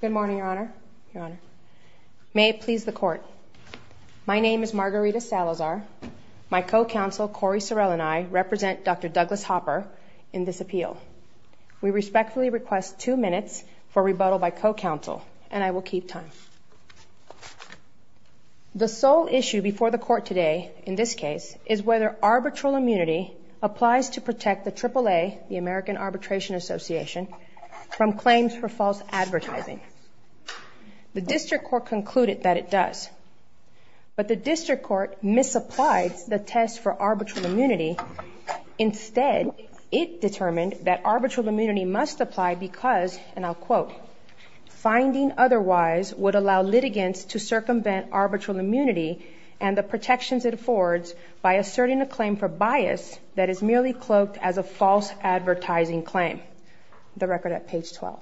Good morning, Your Honor. May it please the Court. My name is Margarita Salazar. My co-counsel, Corey Sorrell, and I represent Dr. Douglas Hopper in this appeal. We respectfully request two minutes for rebuttal by co-counsel, and I will keep time. The sole issue before the Court today, in this case, is whether arbitral immunity applies to protect the AAA, the American Arbitration Association, from claims for false advertising. The District Court concluded that it does, but the District Court misapplied the test for arbitral immunity. Instead, it determined that arbitral immunity must apply because, and I'll quote, finding otherwise would allow litigants to circumvent arbitral immunity and the protections it affords by asserting a claim for bias that is merely cloaked as a false advertising claim. The record at page 12.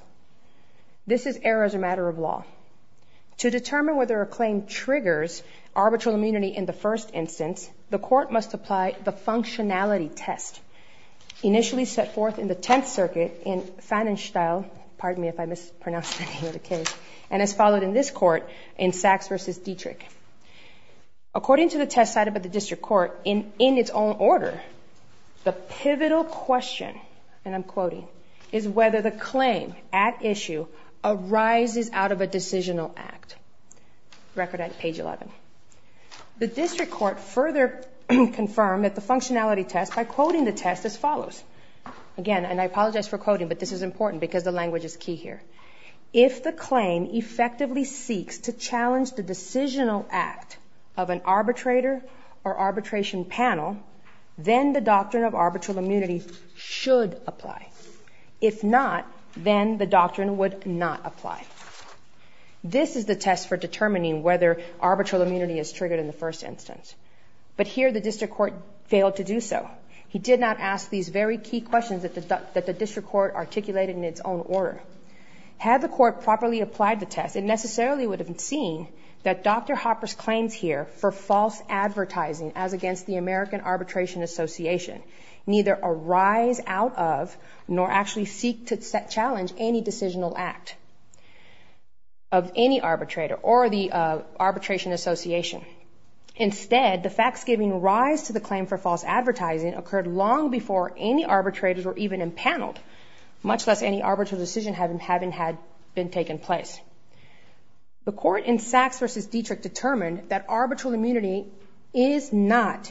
This is error as a matter of law. To determine whether a claim triggers arbitral immunity in the first instance, the Court must apply the functionality test initially set forth in the Tenth Circuit in Pfannenstiel, pardon me if I mispronounce the name of the case, and as followed in this Court in Sachs v. Dietrich. According to the test cited by the District Court, in its own order, the pivotal question, and I'm quoting, is whether the claim at issue arises out of a decisional act. Record at page 11. The District Court further confirmed that the functionality test, by quoting the test as follows. Again, and I apologize for quoting, but this is important because the language is key here. If the claim effectively seeks to challenge the decisional act of an arbitrator or arbitration panel, then the doctrine of arbitral immunity should apply. If not, then the doctrine would not apply. This is the test for determining whether arbitral immunity is triggered in the first instance. But here, the District Court failed to do so. He did not ask these very key questions that the District Court articulated in its own order. Had the Court properly applied the test, it necessarily would have seen that Dr. Hopper's claims here for false advertising as against the American Arbitration Association neither arise out of nor actually seek to challenge any decisional act of any arbitrator or the Arbitration Association. Instead, the facts giving rise to the claim for false advertising occurred long before any arbitrators were even impaneled, much less any arbitral decision having had been taken place. The Court in Sachs v. Dietrich determined that arbitral immunity is not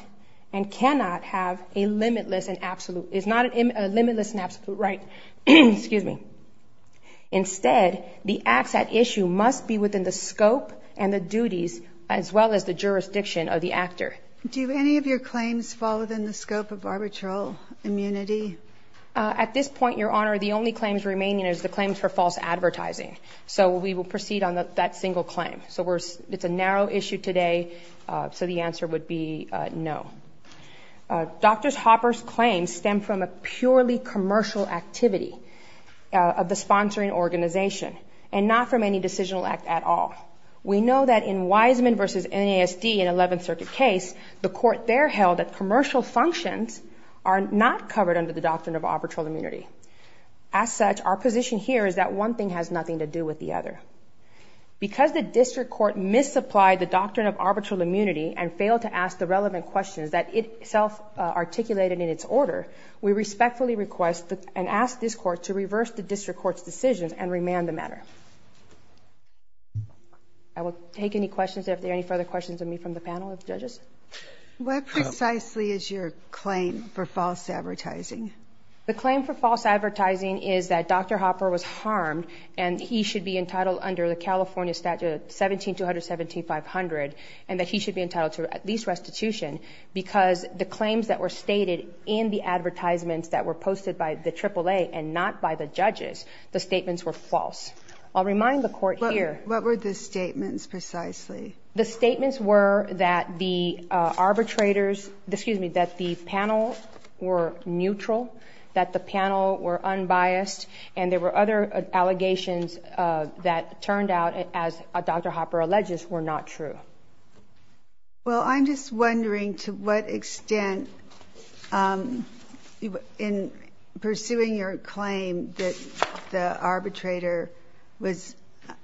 and cannot have a limitless and absolute, is not a limitless and absolute right. Excuse me. Instead, the acts at issue must be within the scope and the duties as well as the jurisdiction of the actor. Do any of your claims fall within the scope of arbitral immunity? At this point, Your Honor, the only claims remaining is the claims for false advertising. So we will proceed on that single claim. It's a narrow issue today, so the answer would be no. Dr. Hopper's claims stem from a purely commercial activity of the sponsoring organization and not from any decisional act at all. We know that in Wiseman v. NASD, an 11th Circuit case, the Court there held that commercial functions are not covered under the doctrine of arbitral immunity. As such, our position here is that one thing has nothing to do with the other. Because the District Court misapplied the doctrine of arbitral immunity and failed to ask the relevant questions that it self-articulated in its order, we respectfully request and ask this Court to reverse the District Court's decisions and remand the matter. I will take any questions if there are any further questions of me from the panel of judges. What precisely is your claim for false advertising? The claim for false advertising is that Dr. Hopper was harmed and he should be entitled under the California statute 17-217-500 and that he should be entitled to at least restitution because the claims that were stated in the advertisements that were posted by the AAA and not by the judges, the statements were false. I'll remind the Court here. What were the statements precisely? The statements were that the panel were neutral, that the panel were unbiased, and there were other allegations that turned out, as Dr. Hopper alleges, were not true. Well, I'm just wondering to what extent in pursuing your claim that the arbitrator was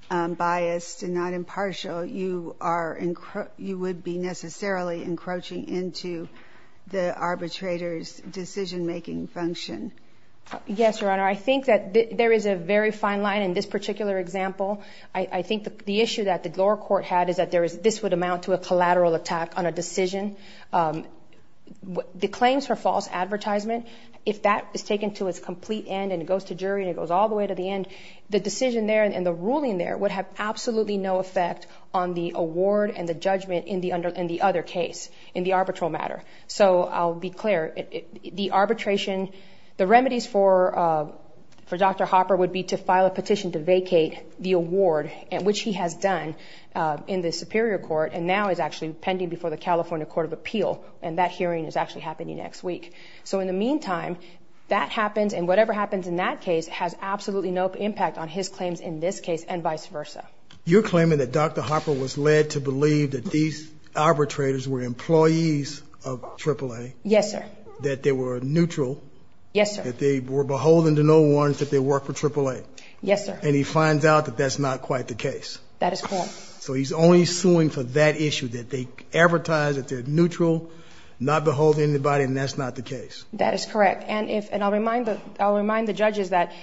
biased and not impartial, you would be necessarily encroaching into the arbitrator's decision-making function. Yes, Your Honor. I think that there is a very fine line in this particular example. I think the issue that the lower court had is that this would amount to a collateral attack on a decision. The claims for false advertisement, if that is taken to its complete end and it goes to jury and it goes all the way to the end, the decision there and the ruling there would have absolutely no effect on the award and the judgment in the other case, in the arbitral matter. So I'll be clear. The arbitration, the remedies for Dr. Hopper would be to file a petition to vacate the award, which he has done in the Superior Court and now is actually pending before the California Court of Appeal, and that hearing is actually happening next week. So in the meantime, that happens and whatever happens in that case has absolutely no impact on his claims in this case and vice versa. You're claiming that Dr. Hopper was led to believe that these arbitrators were employees of AAA. Yes, sir. That they were neutral. Yes, sir. That they were beholden to no one, that they worked for AAA. Yes, sir. And he finds out that that's not quite the case. That is correct. So he's only suing for that issue, that they advertise that they're neutral, not beholden to anybody, and that's not the case. That is correct. And I'll remind the judges that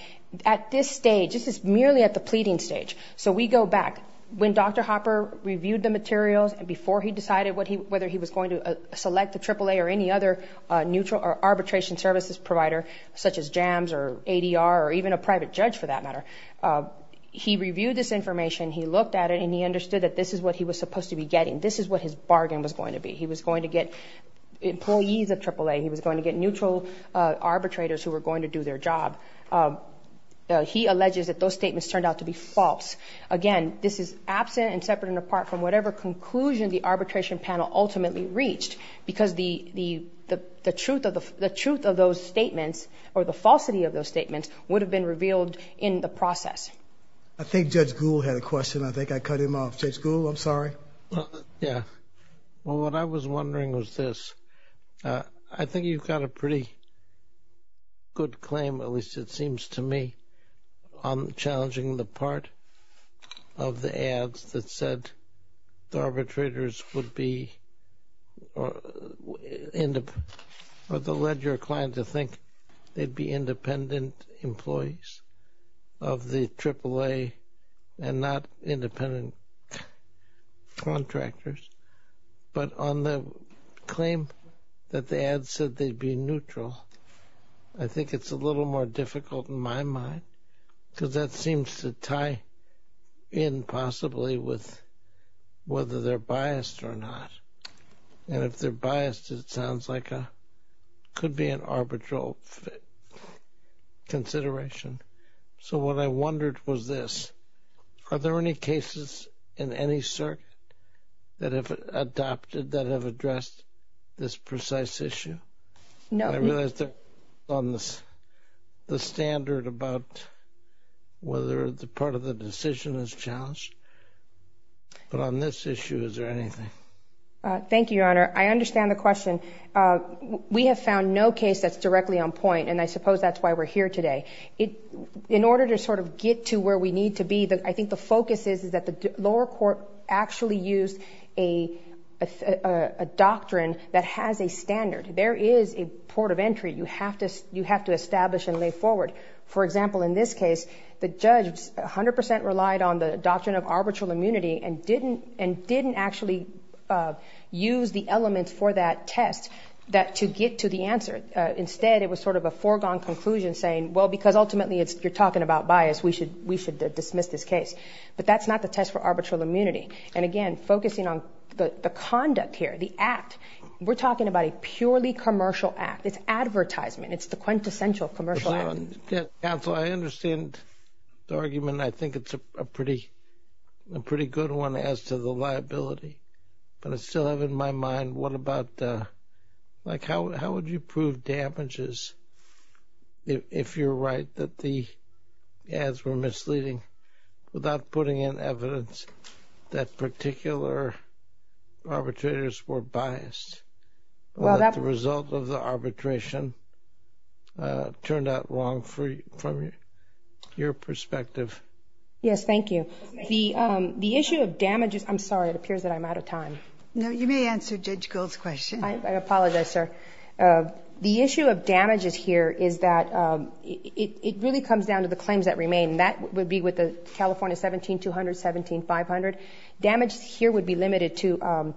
at this stage, this is merely at the pleading stage. So we go back. When Dr. Hopper reviewed the materials, before he decided whether he was going to select the AAA or any other neutral or arbitration services provider, such as JAMS or ADR or even a private judge for that matter, he reviewed this information, he looked at it, and he understood that this is what he was supposed to be getting. This is what his bargain was going to be. He was going to get employees of AAA. He was going to get neutral arbitrators who were going to do their job. He alleges that those statements turned out to be false. Again, this is absent and separate and apart from whatever conclusion the arbitration panel ultimately reached, because the truth of those statements or the falsity of those statements would have been revealed in the process. I think Judge Gould had a question. I think I cut him off. Judge Gould, I'm sorry. Yeah. Well, what I was wondering was this. I think you've got a pretty good claim, at least it seems to me, on challenging the part of the ads that said the arbitrators would be or that led your client to think they'd be independent employees of the AAA and not independent contractors. But on the claim that the ads said they'd be neutral, I think it's a little more difficult in my mind, because that seems to tie in possibly with whether they're biased or not. And if they're biased, it sounds like it could be an arbitral consideration. So what I wondered was this. Are there any cases in any circuit that have adopted that have addressed this precise issue? No. I realize they're on the standard about whether part of the decision is challenged. But on this issue, is there anything? Thank you, Your Honor. I understand the question. We have found no case that's directly on point, and I suppose that's why we're here today. In order to sort of get to where we need to be, I think the focus is that the lower court actually used a doctrine that has a standard. There is a port of entry you have to establish and lay forward. For example, in this case, the judge 100 percent relied on the doctrine of arbitral immunity and didn't actually use the elements for that test to get to the answer. Instead, it was sort of a foregone conclusion saying, well, because ultimately you're talking about bias, we should dismiss this case. But that's not the test for arbitral immunity. And, again, focusing on the conduct here, the act, we're talking about a purely commercial act. It's advertisement. It's the quintessential commercial act. Counsel, I understand the argument. I think it's a pretty good one as to the liability. But I still have in my mind what about, like, how would you prove damages if you're right, that the ads were misleading without putting in evidence that particular arbitrators were biased? The result of the arbitration turned out wrong from your perspective. Yes, thank you. The issue of damages ‑‑ I'm sorry. It appears that I'm out of time. No, you may answer Judge Gold's question. I apologize, sir. The issue of damages here is that it really comes down to the claims that remain. That would be with the California 17-200, 17-500. Damage here would be limited to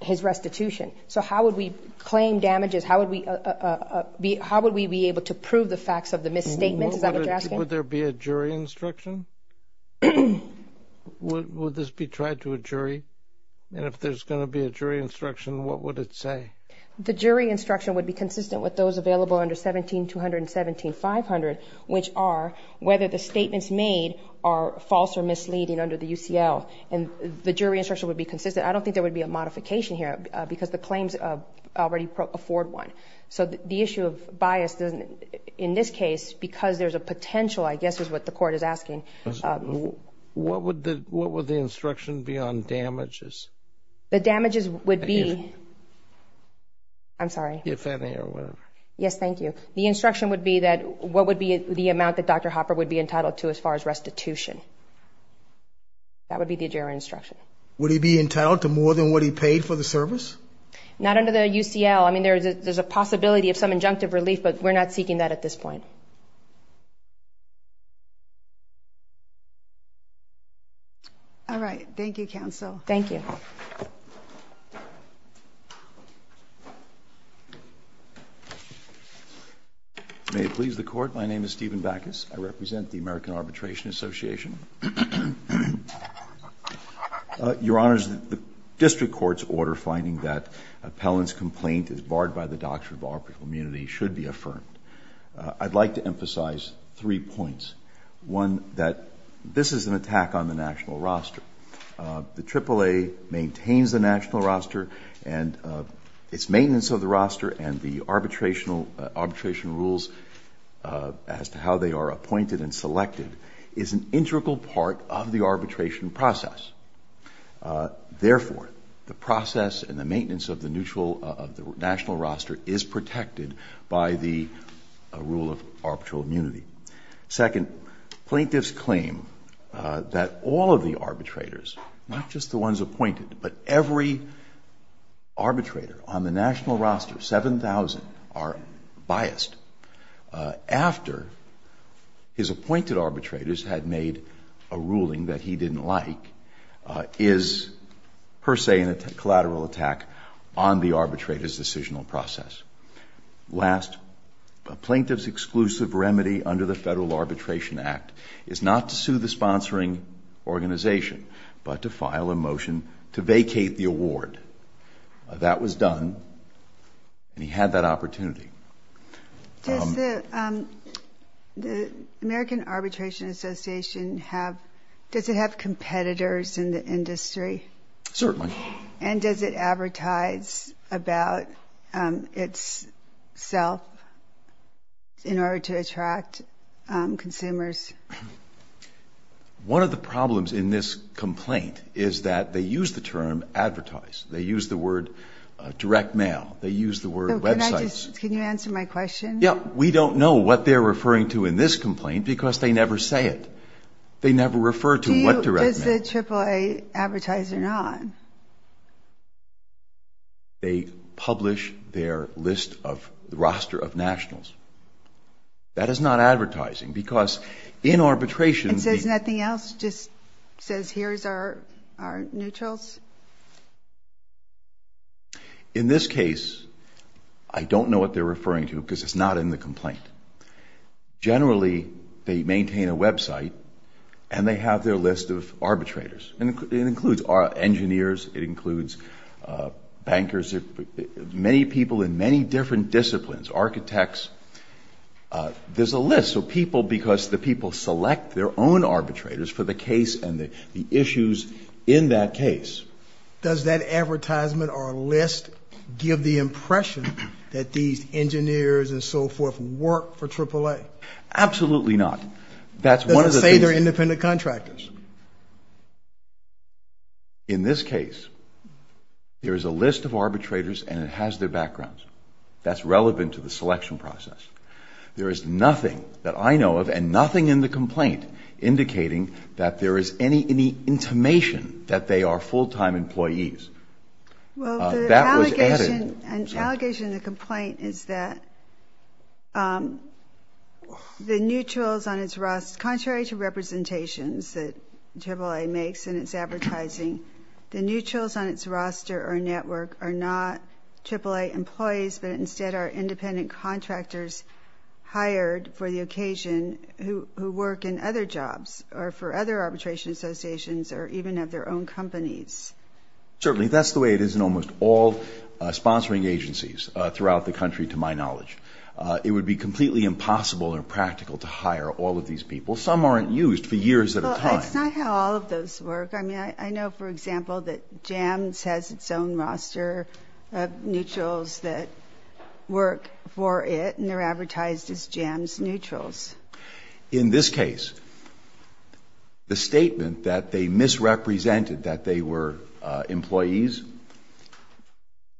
his restitution. So how would we claim damages? How would we be able to prove the facts of the misstatement? Is that what you're asking? Would there be a jury instruction? Would this be tried to a jury? And if there's going to be a jury instruction, what would it say? The jury instruction would be consistent with those available under 17-200 and 17-500, which are whether the statements made are false or misleading under the UCL. And the jury instruction would be consistent. I don't think there would be a modification here because the claims already afford one. So the issue of bias in this case, because there's a potential, I guess, is what the court is asking. What would the instruction be on damages? The damages would be ‑‑ I'm sorry. If any or whatever. Yes, thank you. The instruction would be that what would be the amount that Dr. Hopper would be entitled to as far as restitution? That would be the jury instruction. Would he be entitled to more than what he paid for the service? Not under the UCL. I mean, there's a possibility of some injunctive relief, but we're not seeking that at this point. All right. Thank you, counsel. Thank you. May it please the Court, my name is Stephen Backus. I represent the American Arbitration Association. Your Honor, the district court's order finding that appellant's complaint is barred by the doctrine of arbitral immunity should be affirmed. I'd like to emphasize three points. One, that this is an attack on the national roster. The AAA maintains the national roster and its maintenance of the roster and the arbitration rules as to how they are appointed and selected is an integral part of the arbitration process. Therefore, the process and the maintenance of the national roster is protected by the rule of arbitral immunity. Second, plaintiffs claim that all of the arbitrators, not just the ones appointed, but every arbitrator on the national roster, 7,000 are biased, after his appointed arbitrators had made a ruling that he didn't like, is per se a collateral attack on the arbitrator's decisional process. Last, a plaintiff's exclusive remedy under the Federal Arbitration Act is not to sue the sponsoring organization, but to file a motion to vacate the award. That was done, and he had that opportunity. Does the American Arbitration Association have competitors in the industry? Certainly. And does it advertise about itself in order to attract consumers? One of the problems in this complaint is that they use the term advertise. They use the word direct mail. They use the word websites. Can you answer my question? Yeah. We don't know what they're referring to in this complaint because they never say it. They never refer to what direct mail. Does the AAA advertise or not? They publish their list of roster of nationals. That is not advertising because in arbitration. It says nothing else? It just says here's our neutrals? In this case, I don't know what they're referring to because it's not in the complaint. Generally, they maintain a website, and they have their list of arbitrators. It includes engineers. It includes bankers. Many people in many different disciplines, architects. There's a list of people because the people select their own arbitrators for the case and the issues in that case. Does that advertisement or list give the impression that these engineers and so forth work for AAA? Absolutely not. That's one of the things. Does it say they're independent contractors? It does. In this case, there is a list of arbitrators, and it has their backgrounds. That's relevant to the selection process. There is nothing that I know of and nothing in the complaint indicating that there is any intimation that they are full-time employees. Well, the allegation in the complaint is that the neutrals on its roster, contrary to representations that AAA makes in its advertising, the neutrals on its roster or network are not AAA employees, but instead are independent contractors hired for the occasion who work in other jobs or for other arbitration associations or even have their own companies. Certainly. That's the way it is in almost all sponsoring agencies throughout the country to my knowledge. It would be completely impossible or practical to hire all of these people. Some aren't used for years at a time. Well, that's not how all of those work. I mean, I know, for example, that JAMS has its own roster of neutrals that work for it, and they're advertised as JAMS neutrals. In this case, the statement that they misrepresented that they were employees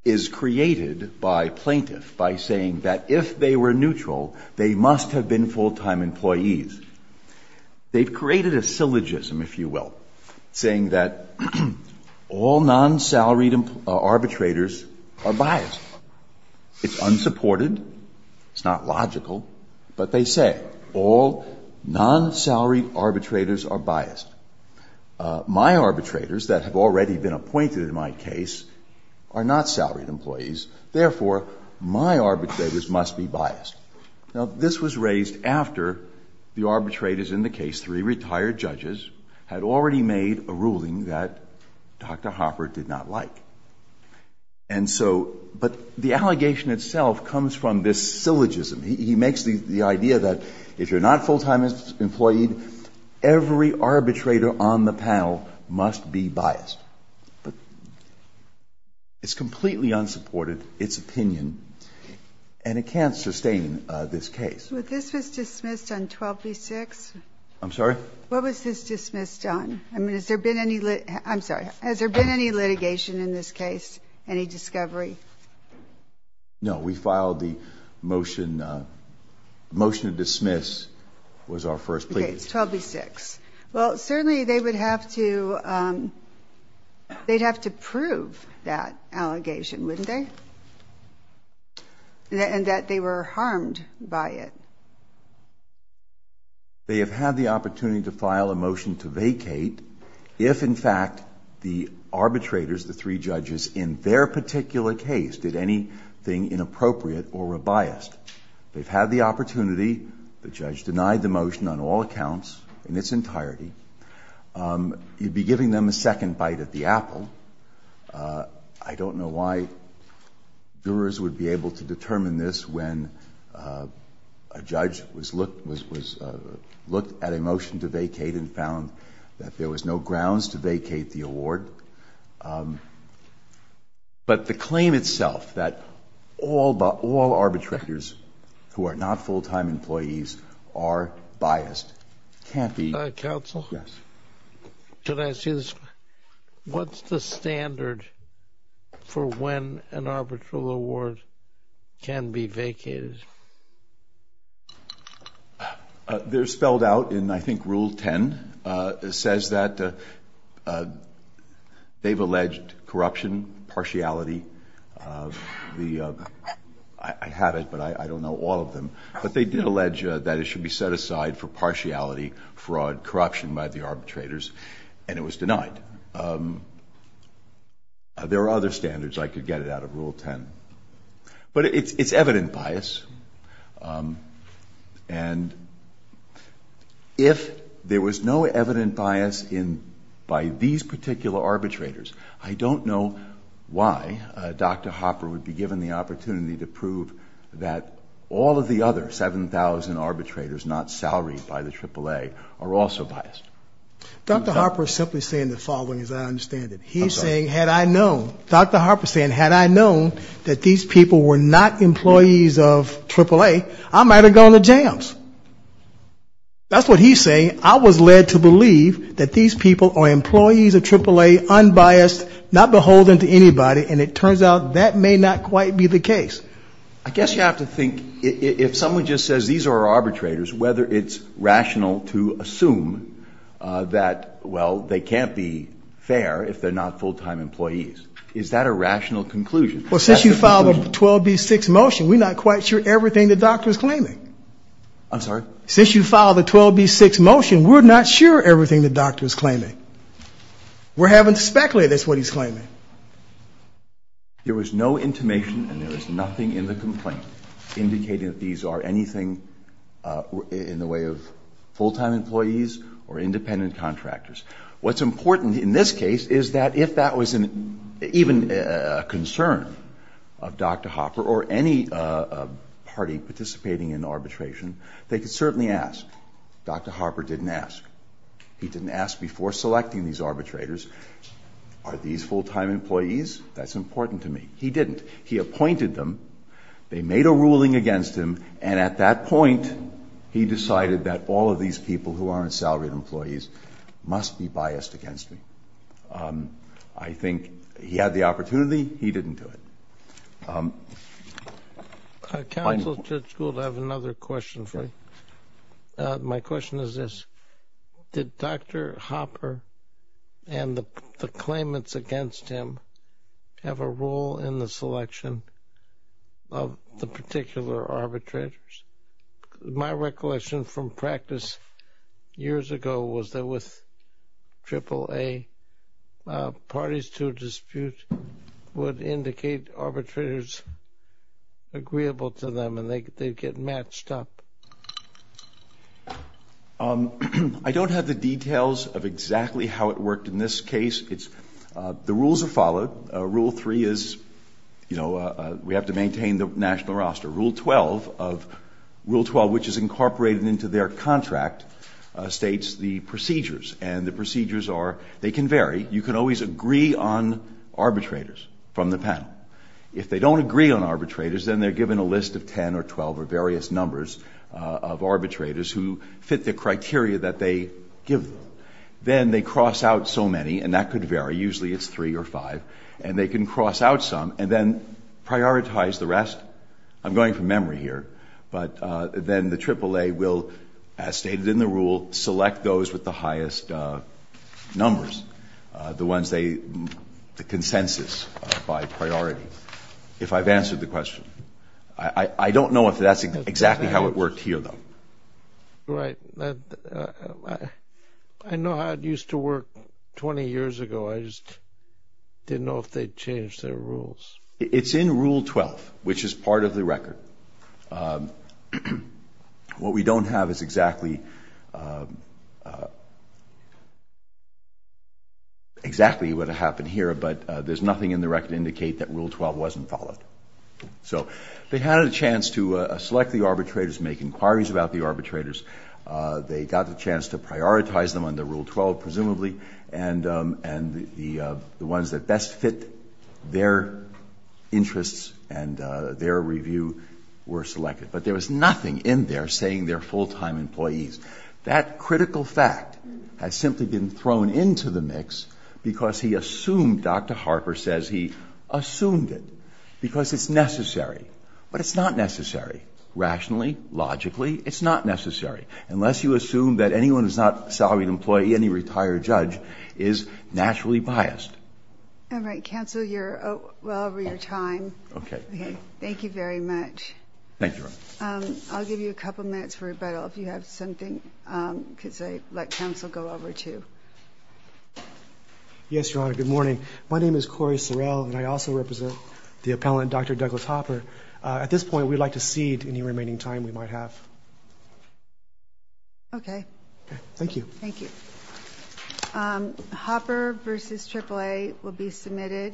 is created by plaintiff by saying that if they were neutral, they must have been full-time employees. They've created a syllogism, if you will, saying that all non-salaried arbitrators are biased. It's unsupported. It's not logical. But they say all non-salaried arbitrators are biased. My arbitrators that have already been appointed in my case are not salaried employees. Therefore, my arbitrators must be biased. Now, this was raised after the arbitrators in the case, three retired judges, had already made a ruling that Dr. Hopper did not like. And so, but the allegation itself comes from this syllogism. He makes the idea that if you're not full-time employee, every arbitrator on the panel must be biased. But it's completely unsupported, its opinion, and it can't sustain this case. But this was dismissed on 12B-6? I'm sorry? What was this dismissed on? I mean, has there been any litigation in this case, any discovery? No, we filed the motion. The motion to dismiss was our first plea. Okay, it's 12B-6. Well, certainly they would have to prove that allegation, wouldn't they? And that they were harmed by it. They have had the opportunity to file a motion to vacate if, in fact, the arbitrators, the three judges in their particular case, did anything inappropriate or were biased. They've had the opportunity. The judge denied the motion on all accounts in its entirety. You'd be giving them a second bite at the apple. I don't know why jurors would be able to determine this when a judge was looked at a motion to vacate and found that there was no grounds to vacate the award. But the claim itself that all arbitrators who are not full-time employees are biased can't be ---- Counsel? Yes. Could I see this? What's the standard for when an arbitral award can be vacated? They're spelled out in, I think, Rule 10. It says that they've alleged corruption, partiality. I have it, but I don't know all of them. But they did allege that it should be set aside for partiality, fraud, corruption by the arbitrators, and it was denied. There are other standards. I could get it out of Rule 10. But it's evident bias. And if there was no evident bias by these particular arbitrators, I don't know why Dr. Hopper would be given the opportunity to prove that all of the other 7,000 arbitrators not salaried by the AAA are also biased. Dr. Hopper is simply saying the following, as I understand it. He's saying, had I known. That these people were not employees of AAA, I might have gone to jams. That's what he's saying. I was led to believe that these people are employees of AAA, unbiased, not beholden to anybody, and it turns out that may not quite be the case. I guess you have to think, if someone just says these are arbitrators, whether it's rational to assume that, well, they can't be fair if they're not full-time employees. Is that a rational conclusion? Well, since you filed a 12B6 motion, we're not quite sure everything the doctor's claiming. I'm sorry? Since you filed a 12B6 motion, we're not sure everything the doctor's claiming. We're having to speculate that's what he's claiming. There was no intimation and there was nothing in the complaint indicating that these are anything in the way of full-time employees or independent contractors. What's important in this case is that if that was even a concern of Dr. Hopper or any party participating in arbitration, they could certainly ask. Dr. Hopper didn't ask. He didn't ask before selecting these arbitrators, are these full-time employees? That's important to me. He didn't. He appointed them. They made a ruling against him, and at that point, he decided that all of these people who aren't salaried employees must be biased against me. I think he had the opportunity. He didn't do it. Counsel, Judge Gould, I have another question for you. My question is this. Did Dr. Hopper and the claimants against him have a role in the selection of the particular arbitrators? My recollection from practice years ago was that with AAA, parties to a dispute would indicate arbitrators agreeable to them and they'd get matched up. I don't have the details of exactly how it worked in this case. The rules are followed. Rule three is we have to maintain the national roster. Rule 12, which is incorporated into their contract, states the procedures, and the procedures are they can vary. You can always agree on arbitrators from the panel. If they don't agree on arbitrators, then they're given a list of 10 or 12 or various numbers of arbitrators who fit the criteria that they give them. Then they cross out so many, and that could vary. Usually it's three or five. And they can cross out some and then prioritize the rest. I'm going from memory here. But then the AAA will, as stated in the rule, select those with the highest numbers, the ones they consensus by priority, if I've answered the question. I don't know if that's exactly how it worked here, though. Right. I know how it used to work 20 years ago. I just didn't know if they'd changed their rules. It's in rule 12, which is part of the record. What we don't have is exactly what happened here, but there's nothing in the record to indicate that rule 12 wasn't followed. So they had a chance to select the arbitrators, make inquiries about the arbitrators. They got the chance to prioritize them under rule 12, presumably, and the ones that best fit their interests and their review were selected. But there was nothing in there saying they're full-time employees. That critical fact has simply been thrown into the mix because he assumed, Dr. Harper says he assumed it, because it's necessary. But it's not necessary. Rationally, logically, it's not necessary. Unless you assume that anyone who's not a salaried employee, any retired judge, is naturally biased. All right. Counsel, you're well over your time. Okay. Thank you very much. Thank you, Your Honor. I'll give you a couple minutes for rebuttal, if you have something, because I let counsel go over, too. Yes, Your Honor. Good morning. My name is Corey Sorrell, and I also represent the appellant, Dr. Douglas Hopper. At this point, we'd like to cede any remaining time we might have. Okay. Thank you. Thank you. Hopper v. AAA will be submitted.